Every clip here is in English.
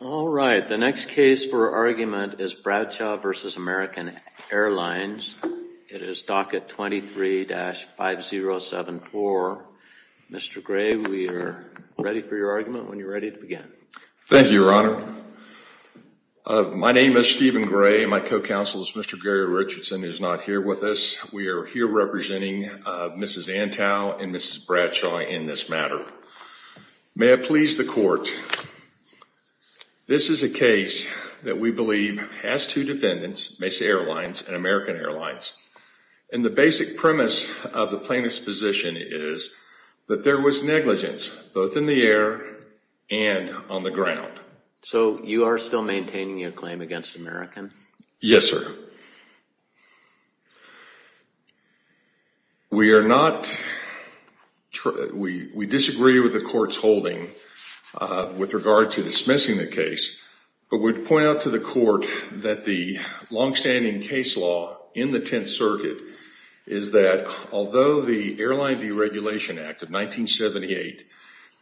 All right. The next case for argument is Bradshaw v. American Airlines. It is docket 23-5074. Mr. Gray, we are ready for your argument when you're ready to begin. Thank you, Your Honor. My name is Stephen Gray. My co-counsel is Mr. Gary Richardson, who's not here with us. We are here representing Mrs. Antow and Mrs. Bradshaw in this matter. May it please the court, this is a case that we believe has two defendants, Mesa Airlines and American Airlines. And the basic premise of the plaintiff's position is that there was negligence, both in the air and on the ground. So you are still maintaining your claim against American? Yes, sir. We disagree with the court's holding with regard to dismissing the case. But we'd point out to the court that the longstanding case law in the Tenth Circuit is that although the Airline Deregulation Act of 1978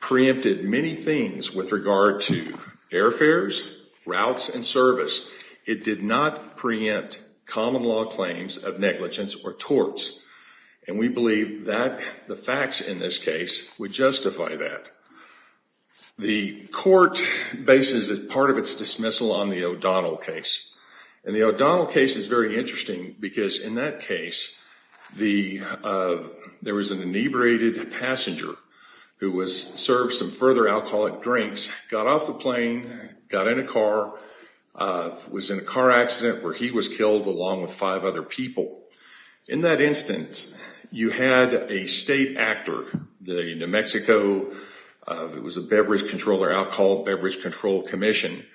preempted many things with regard to airfares, routes, and service, it did not preempt common law claims of negligence or torts. And we believe that the facts in this case would justify that. The court bases part of its dismissal on the O'Donnell case. And the O'Donnell case is very interesting because in that case, there was an inebriated passenger who served some further alcoholic drinks, got off the plane, got in a car, was in a car accident where he was killed along with five other people. In that instance, you had a state actor, the New Mexico Beverage Control Commission,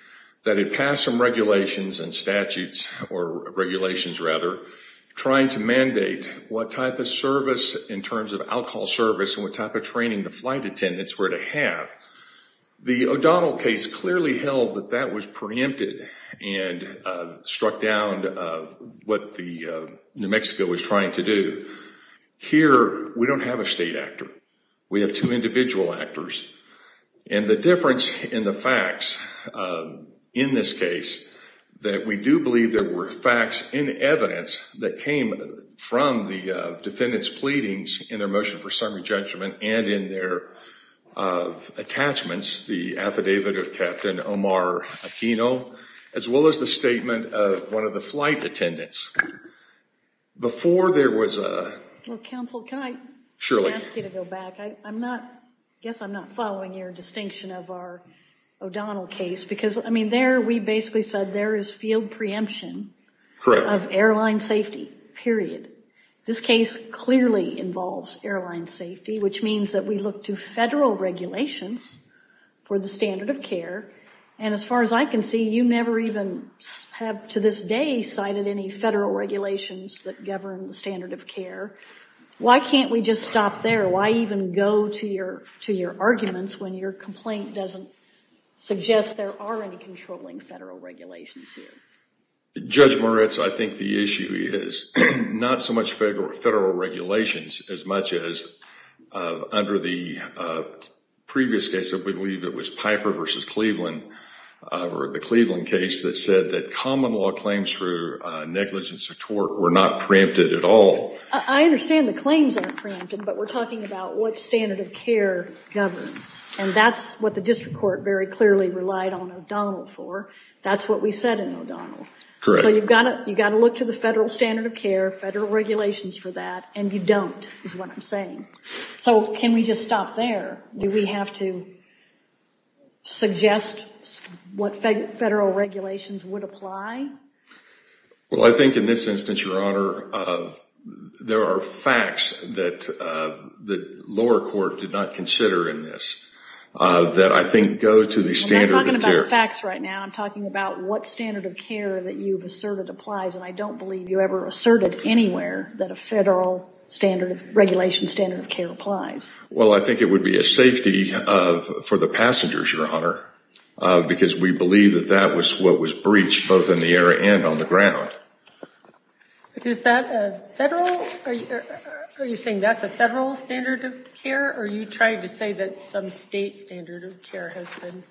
that had passed some regulations and statutes, or regulations rather, trying to mandate what type of service in terms of alcohol service and what type of training the flight attendants were to have. The O'Donnell case clearly held that that was preempted and struck down what New Mexico was trying to do. Here, we don't have a state actor. We have two individual actors. And the difference in the facts in this case that we do believe there were facts in the evidence that came from the defendant's pleadings in their motion for summary judgment and in their attachments, the affidavit of Captain Omar Aquino, as well as the statement of one of the flight attendants. Before there was a- Well, counsel, can I- Shirley. Ask you to go back. I guess I'm not following your distinction of our O'Donnell case because, I mean, there we basically said there is field preemption of airline safety, period. This case clearly involves airline safety, which means that we look to federal regulations for the standard of care. And as far as I can see, you never even have, to this day, cited any federal regulations that govern the standard of care. Why can't we just stop there? Why even go to your arguments when your complaint doesn't suggest there are any controlling federal regulations here? Judge Moritz, I think the issue is not so much federal regulations as much as, under the previous case, I believe it was Piper versus Cleveland, or the Cleveland case, that said that common law claims for negligence of tort were not preempted at all. I understand the claims aren't preempted, but we're talking about what standard of care governs. And that's what the district court very clearly relied on O'Donnell for. That's what we said in O'Donnell. Correct. So you've got to look to the federal standard of care, federal regulations for that, and you don't, is what I'm saying. So can we just stop there? Do we have to suggest what federal regulations would apply? Well, I think in this instance, Your Honor, there are facts that the lower court did not consider in this that, I think, go to the standard of care. I'm not talking about facts right now. I'm talking about what standard of care that you've asserted applies. And I don't believe you ever asserted anywhere that a federal regulation standard of care applies. Well, I think it would be a safety for the passengers, Your Honor, because we believe that that was what was breached, both in the air and on the ground. Is that a federal? Are you saying that's a federal standard of care? Or are you trying to say that some state standard of care has been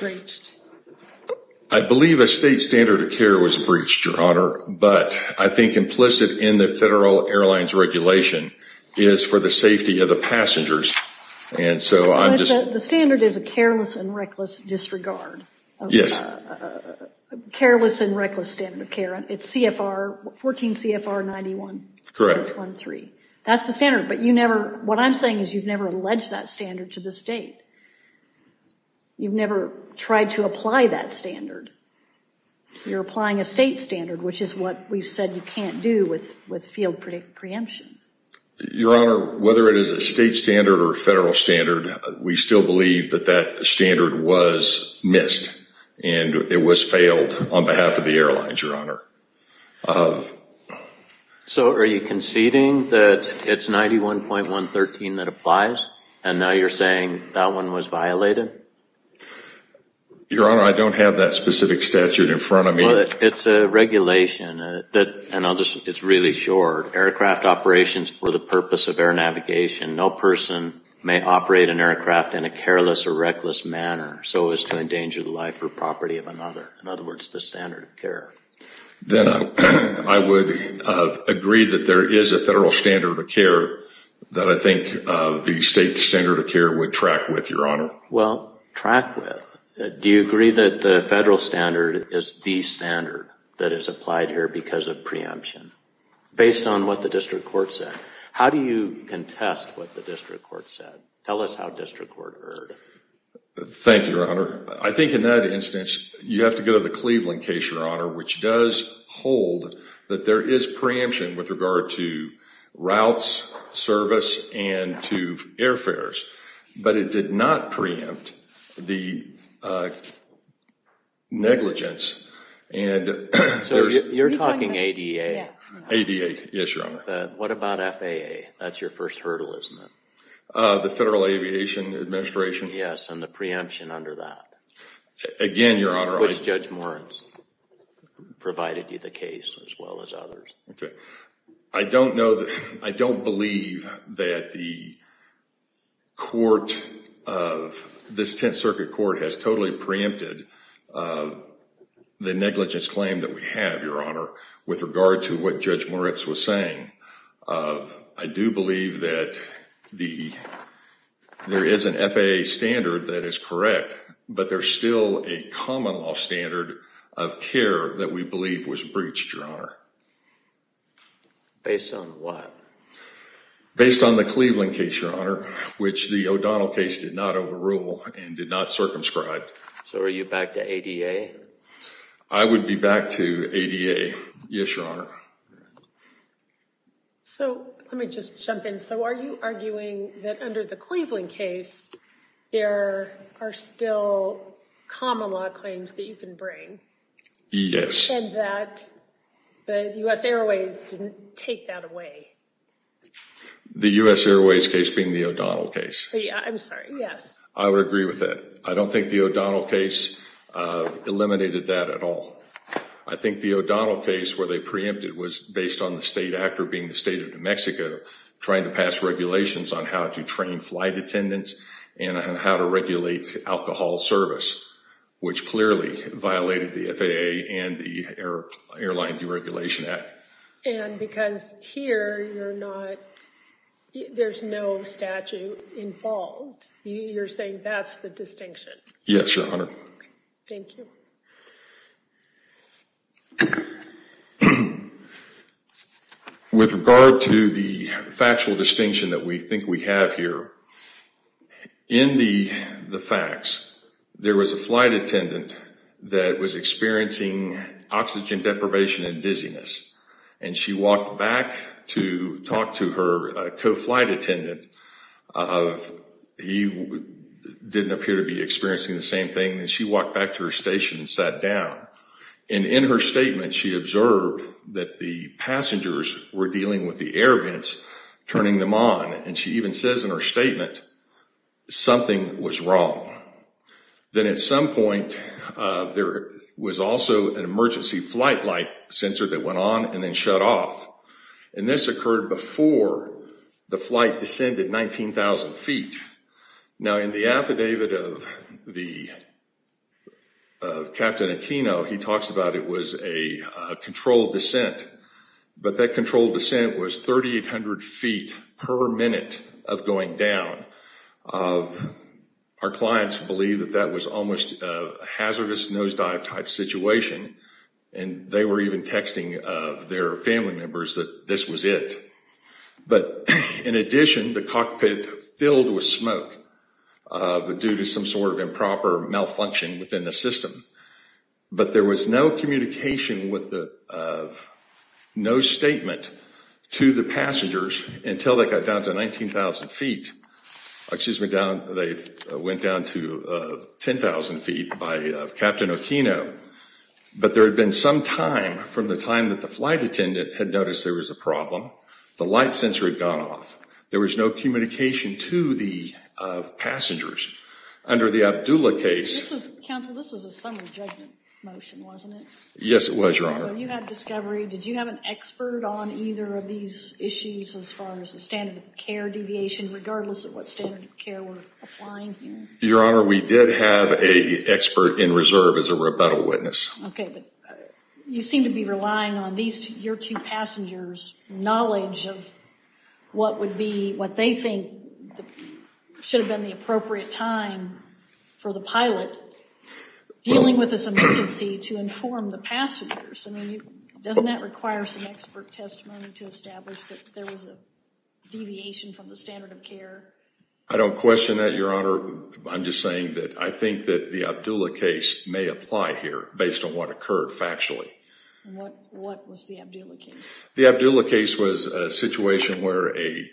breached? I believe a state standard of care was breached, Your Honor. But I think implicit in the federal airlines regulation is for the safety of the passengers. And so I'm just. The standard is a careless and reckless disregard. Yes. Careless and reckless standard of care. It's CFR 14 CFR 91. Correct. That's the standard. But what I'm saying is you've never alleged that standard to the state. You've never tried to apply that standard. You're applying a state standard, which is what we've said you can't do with field preemption. Your Honor, whether it is a state standard or a federal standard, we still believe that that standard was missed. And it was failed on behalf of the airlines, Your Honor. So are you conceding that it's 91.113 that applies? And now you're saying that one was violated? Your Honor, I don't have that specific statute in front of me. Well, it's a regulation that, and it's really short. Aircraft operations for the purpose of air navigation. No person may operate an aircraft in a careless or reckless manner so as to endanger the life or property of another. In other words, the standard of care. Then I would agree that there is a federal standard of care that I think the state standard of care would track with, Your Honor. Well, track with. Do you agree that the federal standard is the standard that is applied here because of preemption, based on what the district court said? How do you contest what the district court said? Tell us how district court heard. Thank you, Your Honor. I think in that instance, you have to go to the Cleveland case, Your Honor, which does hold that there is preemption with regard to routes, service, and to airfares. But it did not preempt the negligence. And there's- You're talking ADA? ADA, yes, Your Honor. What about FAA? That's your first hurdle, isn't it? The Federal Aviation Administration? Yes, and the preemption under that. Again, Your Honor, I- Which Judge Moritz provided you the case, as well as others. OK. I don't know that- I don't believe that the court of- this Tenth Circuit Court has totally preempted the negligence claim that we have, Your Honor, with regard to what Judge Moritz was saying. I do believe that there is an FAA standard that is correct, but there's still a common law standard of care that we believe was breached, Your Honor. Based on what? Based on the Cleveland case, Your Honor, which the O'Donnell case did not overrule and did not circumscribe. So are you back to ADA? I would be back to ADA, yes, Your Honor. So let me just jump in. So are you arguing that under the Cleveland case, there are still common law claims that you can bring? Yes. And that the U.S. Airways didn't take that away? The U.S. Airways case being the O'Donnell case. I'm sorry, yes. I would agree with that. I don't think the O'Donnell case eliminated that at all. I think the O'Donnell case where they preempted was based on the state actor being the state of New Mexico, trying to pass regulations on how to train flight attendants and on how to regulate alcohol service, which clearly violated the FAA and the Airline Deregulation Act. And because here, there's no statute involved, you're saying that's the distinction? Yes, Your Honor. Thank you. With regard to the factual distinction that we think we have here, in the facts, there was a flight attendant that was experiencing oxygen deprivation and dizziness. And she walked back to talk to her co-flight attendant. He didn't appear to be experiencing the same thing. And she walked back to her station and sat down. And in her statement, she observed that the passengers were dealing with the air vents, turning them on. And she even says in her statement, something was wrong. Then at some point, there was also an emergency flight light sensor that went on and then shut off. And this occurred before the flight descended 19,000 feet. Now, in the affidavit of Captain Aquino, he talks about it was a controlled descent. But that controlled descent was 3,800 feet per minute of going down. Our clients believe that that was almost a hazardous nosedive type situation. And they were even texting their family members that this was it. But in addition, the cockpit filled with smoke due to some sort of improper malfunction within the system. But there was no communication with the, no statement to the passengers until they got down to 19,000 feet. Excuse me, they went down to 10,000 feet by Captain Aquino. But there had been some time from the time that the flight attendant had noticed there was a problem. The light sensor had gone off. There was no communication to the passengers. Under the Abdullah case. Counsel, this was a summary judgment motion, wasn't it? Yes, it was, Your Honor. So you had discovery. Did you have an expert on either of these issues as far as the standard of care deviation, regardless of what standard of care we're applying here? Your Honor, we did have a expert in reserve as a rebuttal witness. OK, but you seem to be relying on your two passengers' knowledge of what they think should have been the appropriate time for the pilot dealing with this emergency to inform the passengers. I mean, doesn't that require some expert testimony to establish that there was a deviation from the standard of care? I don't question that, Your Honor. I'm just saying that I think that the Abdullah case may apply here based on what occurred factually. What was the Abdullah case? The Abdullah case was a situation where a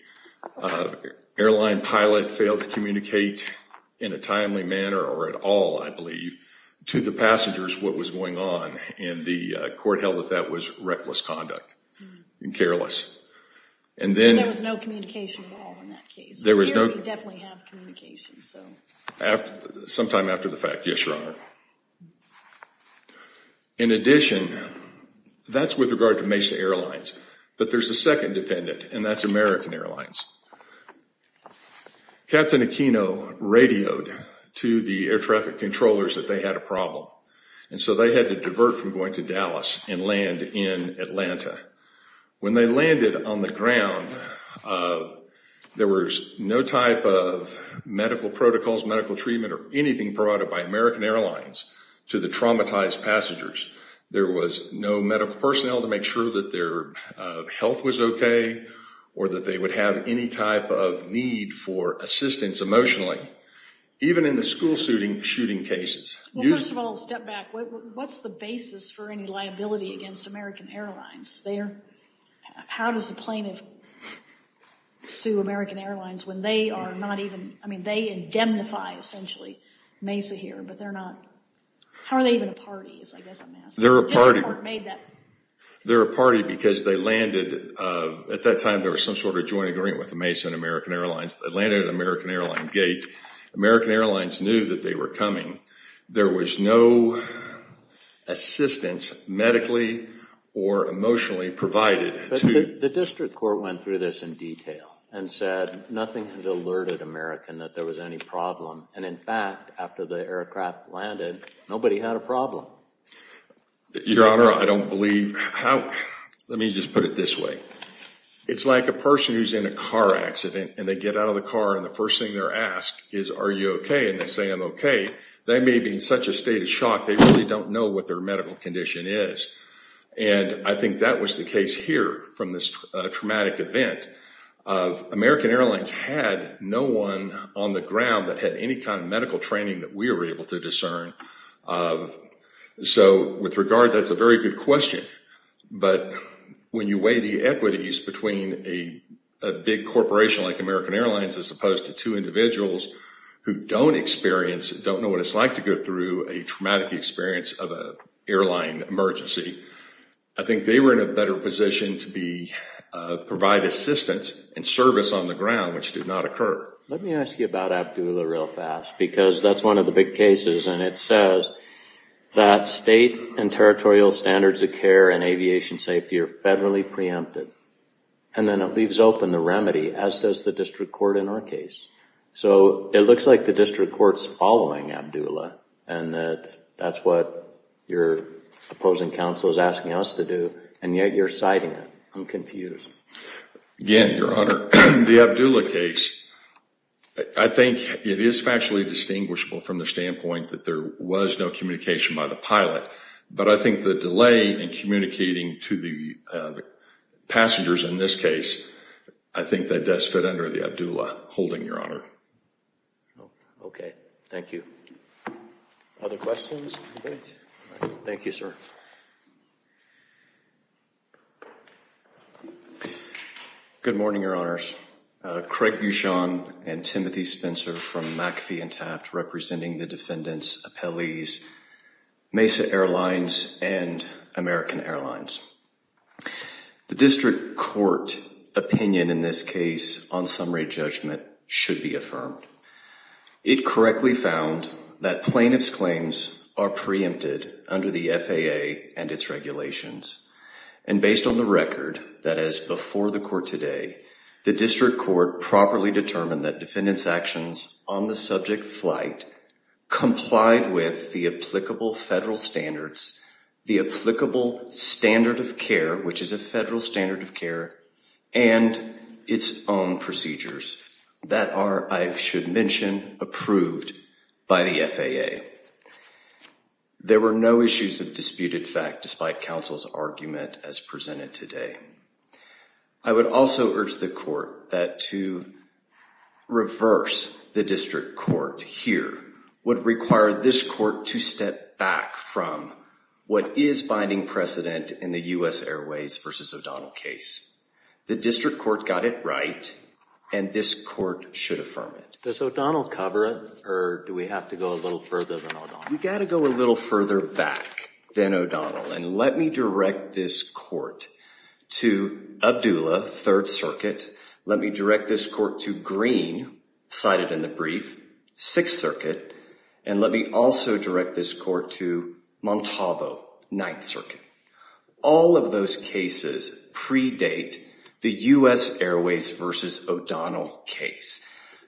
airline pilot failed to communicate in a timely manner or at all, I believe, to the passengers what was going on. And the court held that that was reckless conduct and careless. And then there was no communication at all in that case. There was no communication. Sometime after the fact, yes, Your Honor. In addition, that's with regard to Mesa Airlines. But there's a second defendant. And that's American Airlines. Captain Aquino radioed to the air traffic controllers that they had a problem. And so they had to divert from going to Dallas and land in Atlanta. When they landed on the ground, there was no type of medical protocols, medical treatment, or anything provided by American Airlines to the traumatized passengers. There was no medical personnel to make sure that their health was OK or that they would have any type of need for assistance emotionally, even in the school shooting cases. Well, first of all, step back. What's the basis for any liability against American Airlines? How does a plaintiff sue American Airlines when they are not even, I mean, they indemnify, essentially, Mesa here. But they're not, how are they even a party, I guess I'm asking. They're a party. They're a party because they landed, at that time, there was some sort of joint agreement with the Mesa and American Airlines. They landed at American Airline gate. American Airlines knew that they were coming. There was no assistance, medically or emotionally, provided. The district court went through this in detail and said, nothing had alerted American that there was any problem. And in fact, after the aircraft landed, nobody had a problem. Your Honor, I don't believe how, let me just put it this way. It's like a person who's in a car accident, and they get out of the car, and the first thing they're asked is, are you OK? And they say, I'm OK. They may be in such a state of shock, they really don't know what their medical condition is. And I think that was the case here, from this traumatic event of American Airlines had no one on the ground that had any kind of medical training that we were able to discern. So with regard, that's a very good question. But when you weigh the equities between a big corporation like American Airlines, as opposed to two individuals who don't experience, don't know what it's like to go through a traumatic experience of an airline emergency, I think they were in a better position to provide assistance and service on the ground, which did not occur. Let me ask you about Abdullah real fast, because that's one of the big cases. And it says that state and territorial standards of care and aviation safety are federally preempted. And then it leaves open the remedy, as does the district court in our case. So it looks like the district court's following Abdullah, and that that's what your opposing counsel is asking us to do, and yet you're citing it. I'm confused. Again, Your Honor, the Abdullah case, I think it is factually distinguishable from the standpoint that there was no communication by the pilot. But I think the delay in communicating to the passengers in this case, I think that does fit under the Abdullah holding, Your Honor. OK, thank you. Other questions? Thank you, sir. Good morning, Your Honors. Craig Bouchon and Timothy Spencer from McAfee and Taft representing the defendant's appellees, Mesa Airlines and American Airlines. The district court opinion in this case on summary judgment should be affirmed. It correctly found that plaintiff's claims are preempted under the FAA and its regulations. And based on the record, that is before the court today, the district court properly determined that defendant's actions on the subject flight complied with the applicable federal standards, the applicable standard of care, which is a federal standard of care, and its own procedures that are, I should mention, approved by the FAA. There were no issues of disputed fact despite counsel's argument as presented today. I would also urge the court that to reverse the district court here would require this court to step back from what is finding precedent in the US Airways versus O'Donnell case. The district court got it right, and this court should affirm it. Does O'Donnell cover it? Or do we have to go a little further than O'Donnell? We've got to go a little further back than O'Donnell. And let me direct this court to Abdullah, Third Circuit. Let me direct this court to Green, cited in the brief, Sixth Circuit. And let me also direct this court to Montalvo, Ninth Circuit. All of those cases predate the US Airways versus O'Donnell case.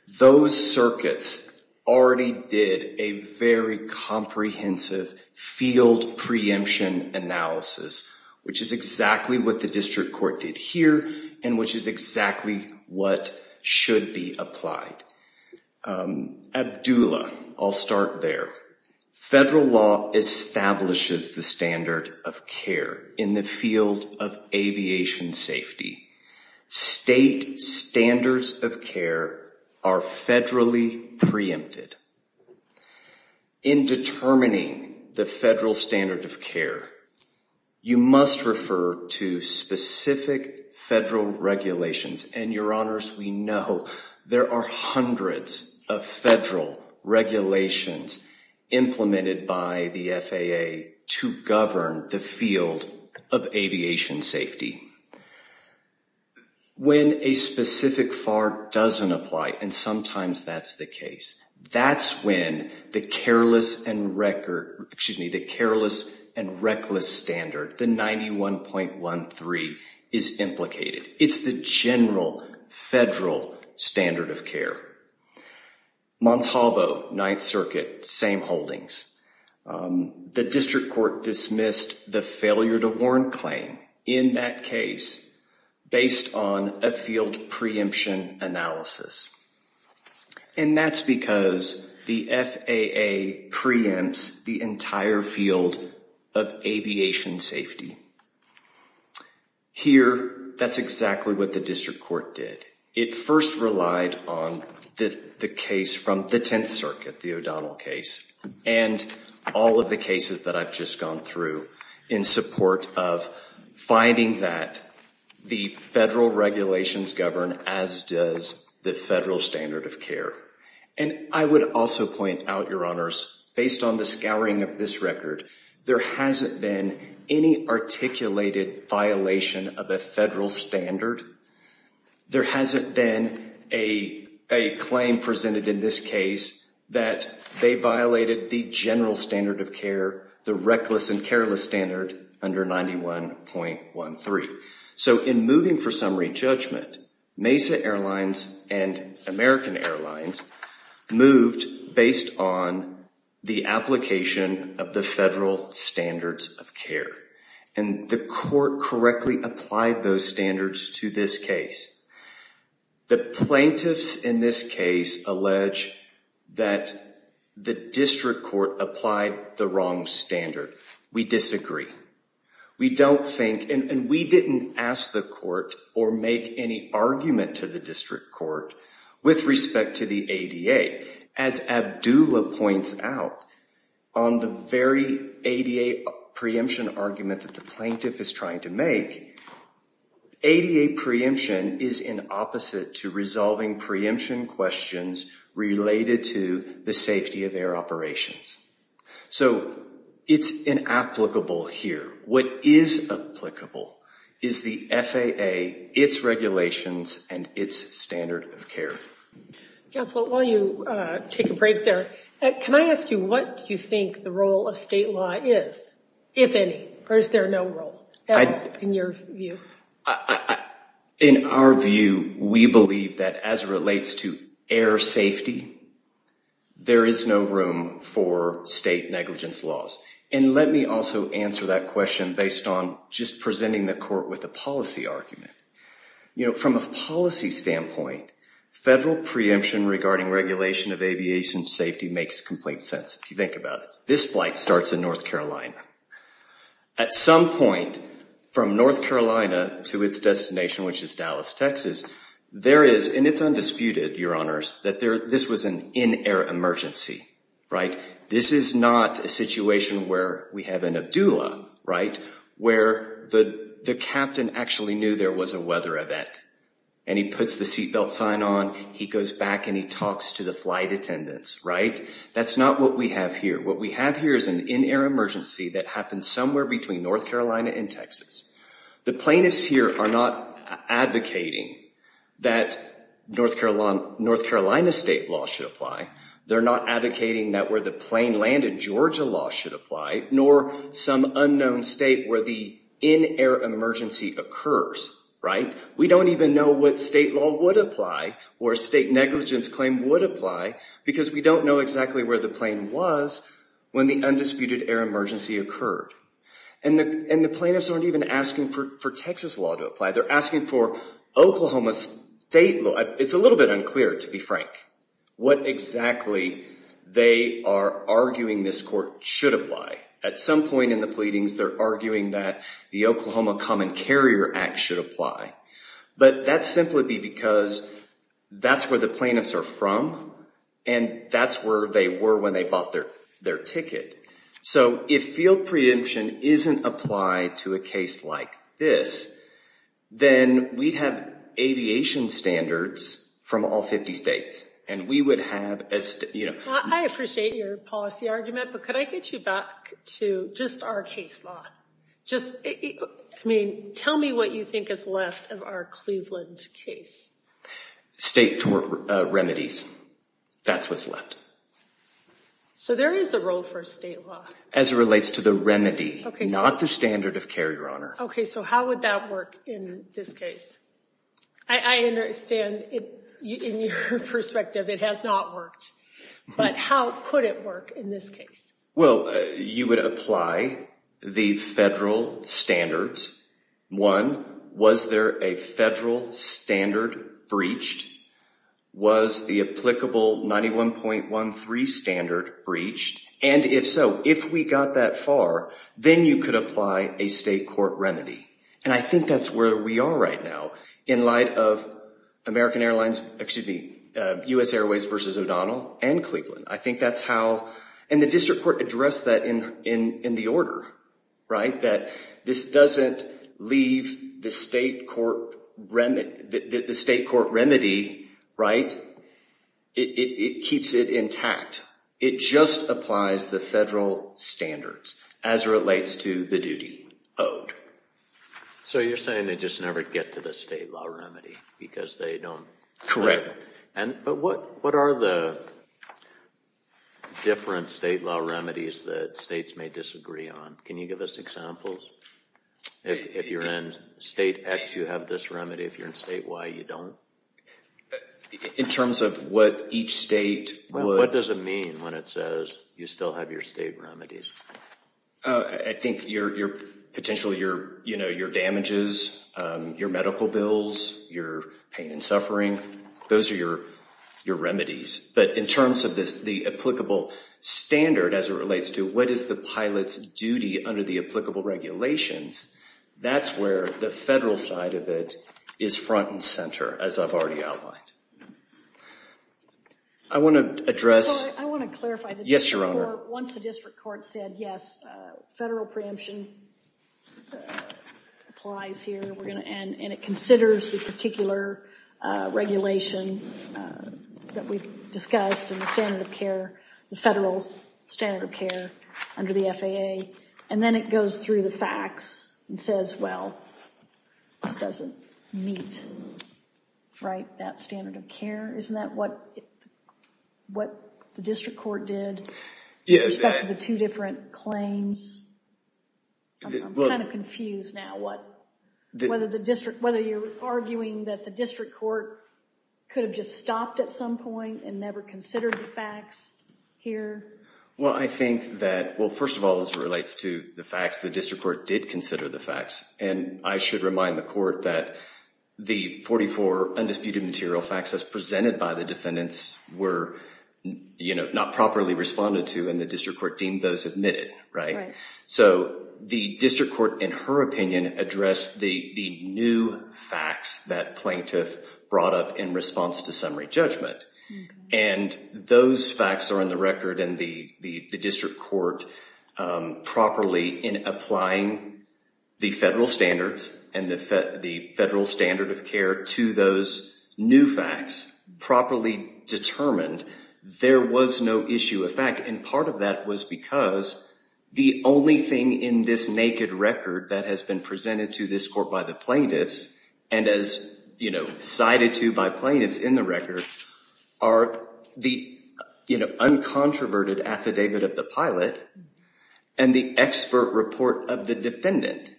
Those circuits already did a very comprehensive field preemption analysis, which is exactly what the district court did here, and which is exactly what should be applied. Abdullah, I'll start there. Federal law establishes the standard of care in the field of aviation safety. State standards of care are federally preempted. In determining the federal standard of care, you must refer to specific federal regulations. And your honors, we know there are hundreds of federal regulations implemented by the FAA to govern the field of aviation safety. When a specific FAR doesn't apply, and sometimes that's the case, that's when the careless and reckless standard, the 91.13, is implicated. It's the general federal standard of care. Montalvo, Ninth Circuit, same holdings. The district court dismissed the failure to warrant claim in that case based on a field preemption analysis. And that's because the FAA preempts the entire field of aviation safety. Here, that's exactly what the district court did. It first relied on the case from the Tenth Circuit, the O'Donnell case, and all of the cases that I've just gone through in support of finding that the federal regulations govern as does the federal standard of care. And I would also point out, your honors, based on the scouring of this record, there hasn't been any articulated violation of a federal standard. There hasn't been a claim presented in this case that they violated the general standard of care, the reckless and careless standard under 91.13. So in moving for summary judgment, Mesa Airlines and American Airlines moved based on the application of the federal standards of care. And the court correctly applied those standards to this case. The plaintiffs in this case allege that the district court applied the wrong standard. We disagree. We don't think, and we didn't ask the court or make any argument to the district court with respect to the ADA. As Abdullah points out, on the very ADA preemption argument that the plaintiff is trying to make, ADA preemption is in opposite to resolving preemption questions related to the safety of air operations. So it's inapplicable here. What is applicable is the FAA, its regulations, and its standard of care. Counsel, while you take a break there, can I ask you, what do you think the role of state law is, if any? Or is there no role in your view? In our view, we believe that as it relates to air safety, there is no room for state negligence laws. And let me also answer that question based on just presenting the court with a policy argument. From a policy standpoint, federal preemption regarding regulation of aviation safety makes complete sense, if you think about it. This flight starts in North Carolina. At some point from North Carolina to its destination, which is Dallas, Texas, there is, and it's undisputed, Your Honors, that this was an in-air emergency. This is not a situation where we have an Abdullah, where the captain actually knew there was a weather event. And he puts the seatbelt sign on, he goes back, and he talks to the flight attendants. That's not what we have here. What we have here is an in-air emergency that happened somewhere between North Carolina and Texas. The plaintiffs here are not advocating that North Carolina state law should apply. They're not advocating that where the plane landed, Georgia law should apply, nor some unknown state where the in-air emergency occurs, right? We don't even know what state law would apply or state negligence claim would apply because we don't know exactly where the plane was when the undisputed air emergency occurred. And the plaintiffs aren't even asking for Texas law to apply. They're asking for Oklahoma state law. It's a little bit unclear, to be frank, what exactly they are arguing this court should apply. At some point in the pleadings, they're arguing that the Oklahoma Common Carrier Act should apply, but that's simply because that's where the plaintiffs are from and that's where they were when they bought their ticket. So if field preemption isn't applied to a case like this, then we'd have aviation standards from all 50 states and we would have a, you know. I appreciate your policy argument, but could I get you back to just our case law? Just, I mean, tell me what you think is left of our Cleveland case. State tort remedies. That's what's left. So there is a role for state law. As it relates to the remedy, not the standard of care, Your Honor. Okay, so how would that work in this case? I understand in your perspective it has not worked, but how could it work in this case? Well, you would apply the federal standards. One, was there a federal standard breached? Was the applicable 91.13 standard breached? And if so, if we got that far, then you could apply a state court remedy. And I think that's where we are right now in light of American Airlines, excuse me, U.S. Airways versus O'Donnell and Cleveland. I think that's how, and the district court addressed that in the order, right? That this doesn't leave the state court remedy, right? It keeps it intact. It just applies the federal standards as it relates to the duty owed. So you're saying they just never get to the state law remedy because they don't. Correct. But what are the different state law remedies that states may disagree on? Can you give us examples? If you're in state X, you have this remedy. If you're in state Y, you don't. In terms of what each state would. What does it mean when it says you still have your state remedies? I think potentially your damages, your medical bills, your pain and suffering, those are your remedies. But in terms of the applicable standard as it relates to what is the pilot's duty under the applicable regulations, that's where the federal side of it is front and center, as I've already outlined. I want to address. I want to clarify. Yes, Your Honor. Once the district court said, yes, federal preemption applies here, and it considers the particular regulation that we've discussed in the standard of care, the federal standard of care under the FAA, and then it goes through the facts and says, well, this doesn't meet that standard of care. Isn't that what the district court did in respect to the two different claims? I'm kind of confused now. Whether you're arguing that the district court could have just stopped at some point and never considered the facts here? Well, I think that, well, first of all, as it relates to the facts, the district court did consider the facts. And I should remind the court that the 44 undisputed material facts as presented by the defendants were not properly responded to, and the district court deemed those admitted, right? So the district court, in her opinion, addressed the new facts that plaintiff brought up in response to summary judgment. And those facts are in the record and the district court properly in applying the federal standards and the federal standard of care to those new facts properly determined. There was no issue of fact, and part of that was because the only thing in this naked record that has been presented to this court by the plaintiffs and as cited to by plaintiffs in the record are the uncontroverted affidavit of the pilot and the expert report of the defendant.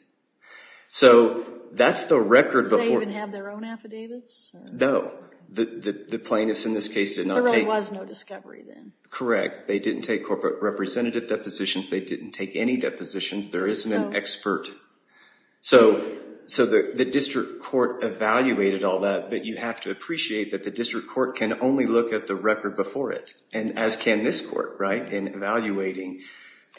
So that's the record before- Do they even have their own affidavits? No, the plaintiffs in this case did not take- There really was no discovery then. Correct, they didn't take corporate representative depositions, they didn't take any depositions, there isn't an expert. So the district court evaluated all that, but you have to appreciate that the district court can only look at the record before it, and as can this court, right, in evaluating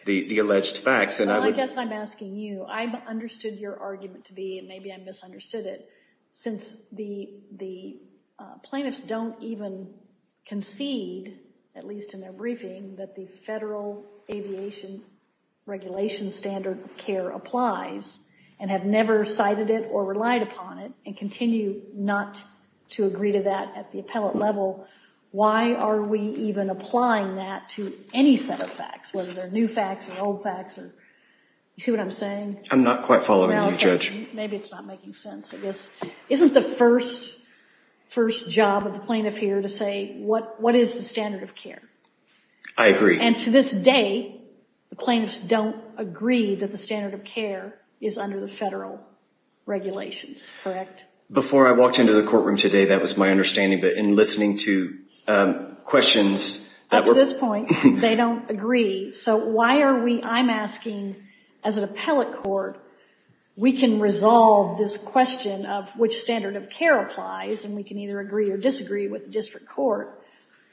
the alleged facts. Well, I guess I'm asking you, I understood your argument to be, and maybe I misunderstood it, since the plaintiffs don't even concede, at least in their briefing, that the Federal Aviation Regulation Standard of Care applies, and have never cited it or relied upon it, and continue not to agree to that at the appellate level, why are we even applying that to any set of facts, whether they're new facts or old facts, or, you see what I'm saying? I'm not quite following you, Judge. Maybe it's not making sense, I guess. Isn't the first job of the plaintiff here to say, what is the standard of care? I agree. And to this day, the plaintiffs don't agree that the standard of care is under the federal regulations, correct? Before I walked into the courtroom today, that was my understanding, but in listening to questions that were- Up to this point, they don't agree, so why are we, I'm asking, as an appellate court, we can resolve this question of which standard of care applies, and we can either agree or disagree with the district court,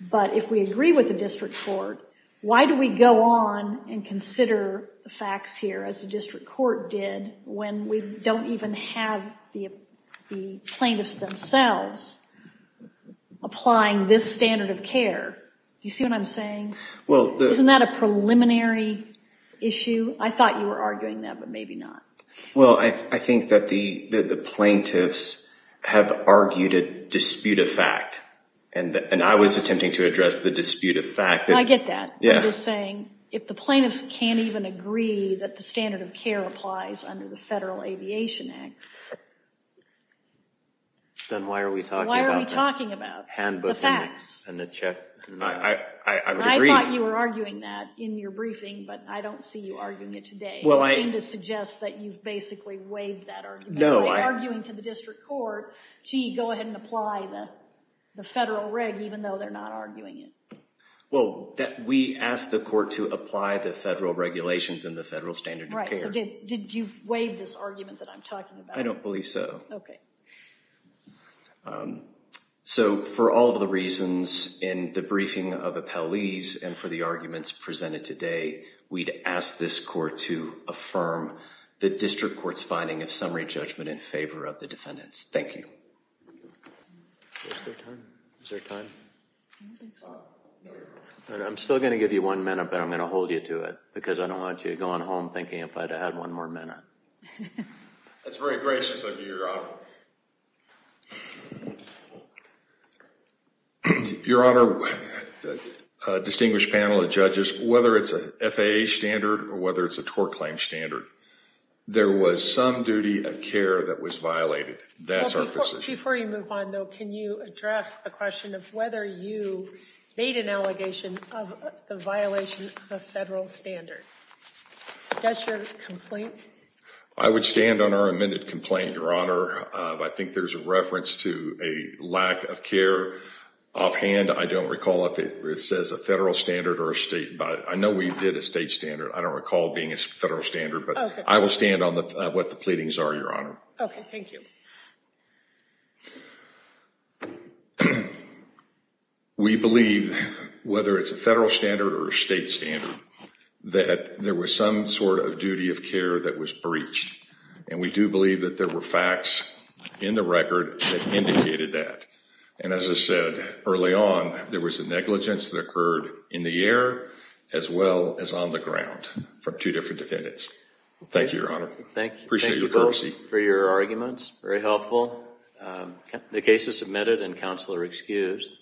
but if we agree with the district court, why do we go on and consider the facts here, as the district court did, when we don't even have the plaintiffs themselves applying this standard of care? Do you see what I'm saying? Isn't that a preliminary issue? I thought you were arguing that, but maybe not. Well, I think that the plaintiffs have argued a dispute of fact, and I was attempting to address the dispute of fact. I get that. You're saying, if the plaintiffs can't even agree that the standard of care applies under the Federal Aviation Act, Then why are we talking about the handbook and the check? I would agree. I thought you were arguing that in your briefing, but I don't see you arguing it today. You seem to suggest that you've basically waived that argument. No, I- By arguing to the district court, gee, go ahead and apply the federal reg, even though they're not arguing it. Well, we asked the court to apply the federal regulations and the federal standard of care. Right, so did you waive this argument that I'm talking about? I don't believe so. Okay. So, for all of the reasons in the briefing of appellees, and for the arguments presented today, we'd ask this court to affirm the district court's finding of summary judgment in favor of the defendants. Thank you. Is there time? Is there time? I'm still gonna give you one minute, but I'm gonna hold you to it, because I don't want you going home thinking if I'd have had one more minute. That's very gracious of you, Your Honor. Your Honor, distinguished panel of judges, whether it's a FAA standard or whether it's a tort claim standard, there was some duty of care that was violated. That's our position. Before you move on, though, can you address the question of whether you made an allegation of the violation of the federal standard? Does your complaint- I would stand on our amended complaint, Your Honor. I think there's a reference to a lack of care offhand. I don't recall if it says a federal standard or a state- I know we did a state standard. I don't recall it being a federal standard, but I will stand on what the pleadings are, Your Honor. Okay, thank you. We believe, whether it's a federal standard or a state standard, that there was some sort of duty of care that was breached. And we do believe that there were facts in the record that indicated that. And as I said early on, there was a negligence that occurred in the air as well as on the ground from two different defendants. Thank you, Your Honor. Thank you. Appreciate your courtesy. Thank you both for your arguments, very helpful. The case is submitted and counsel are excused.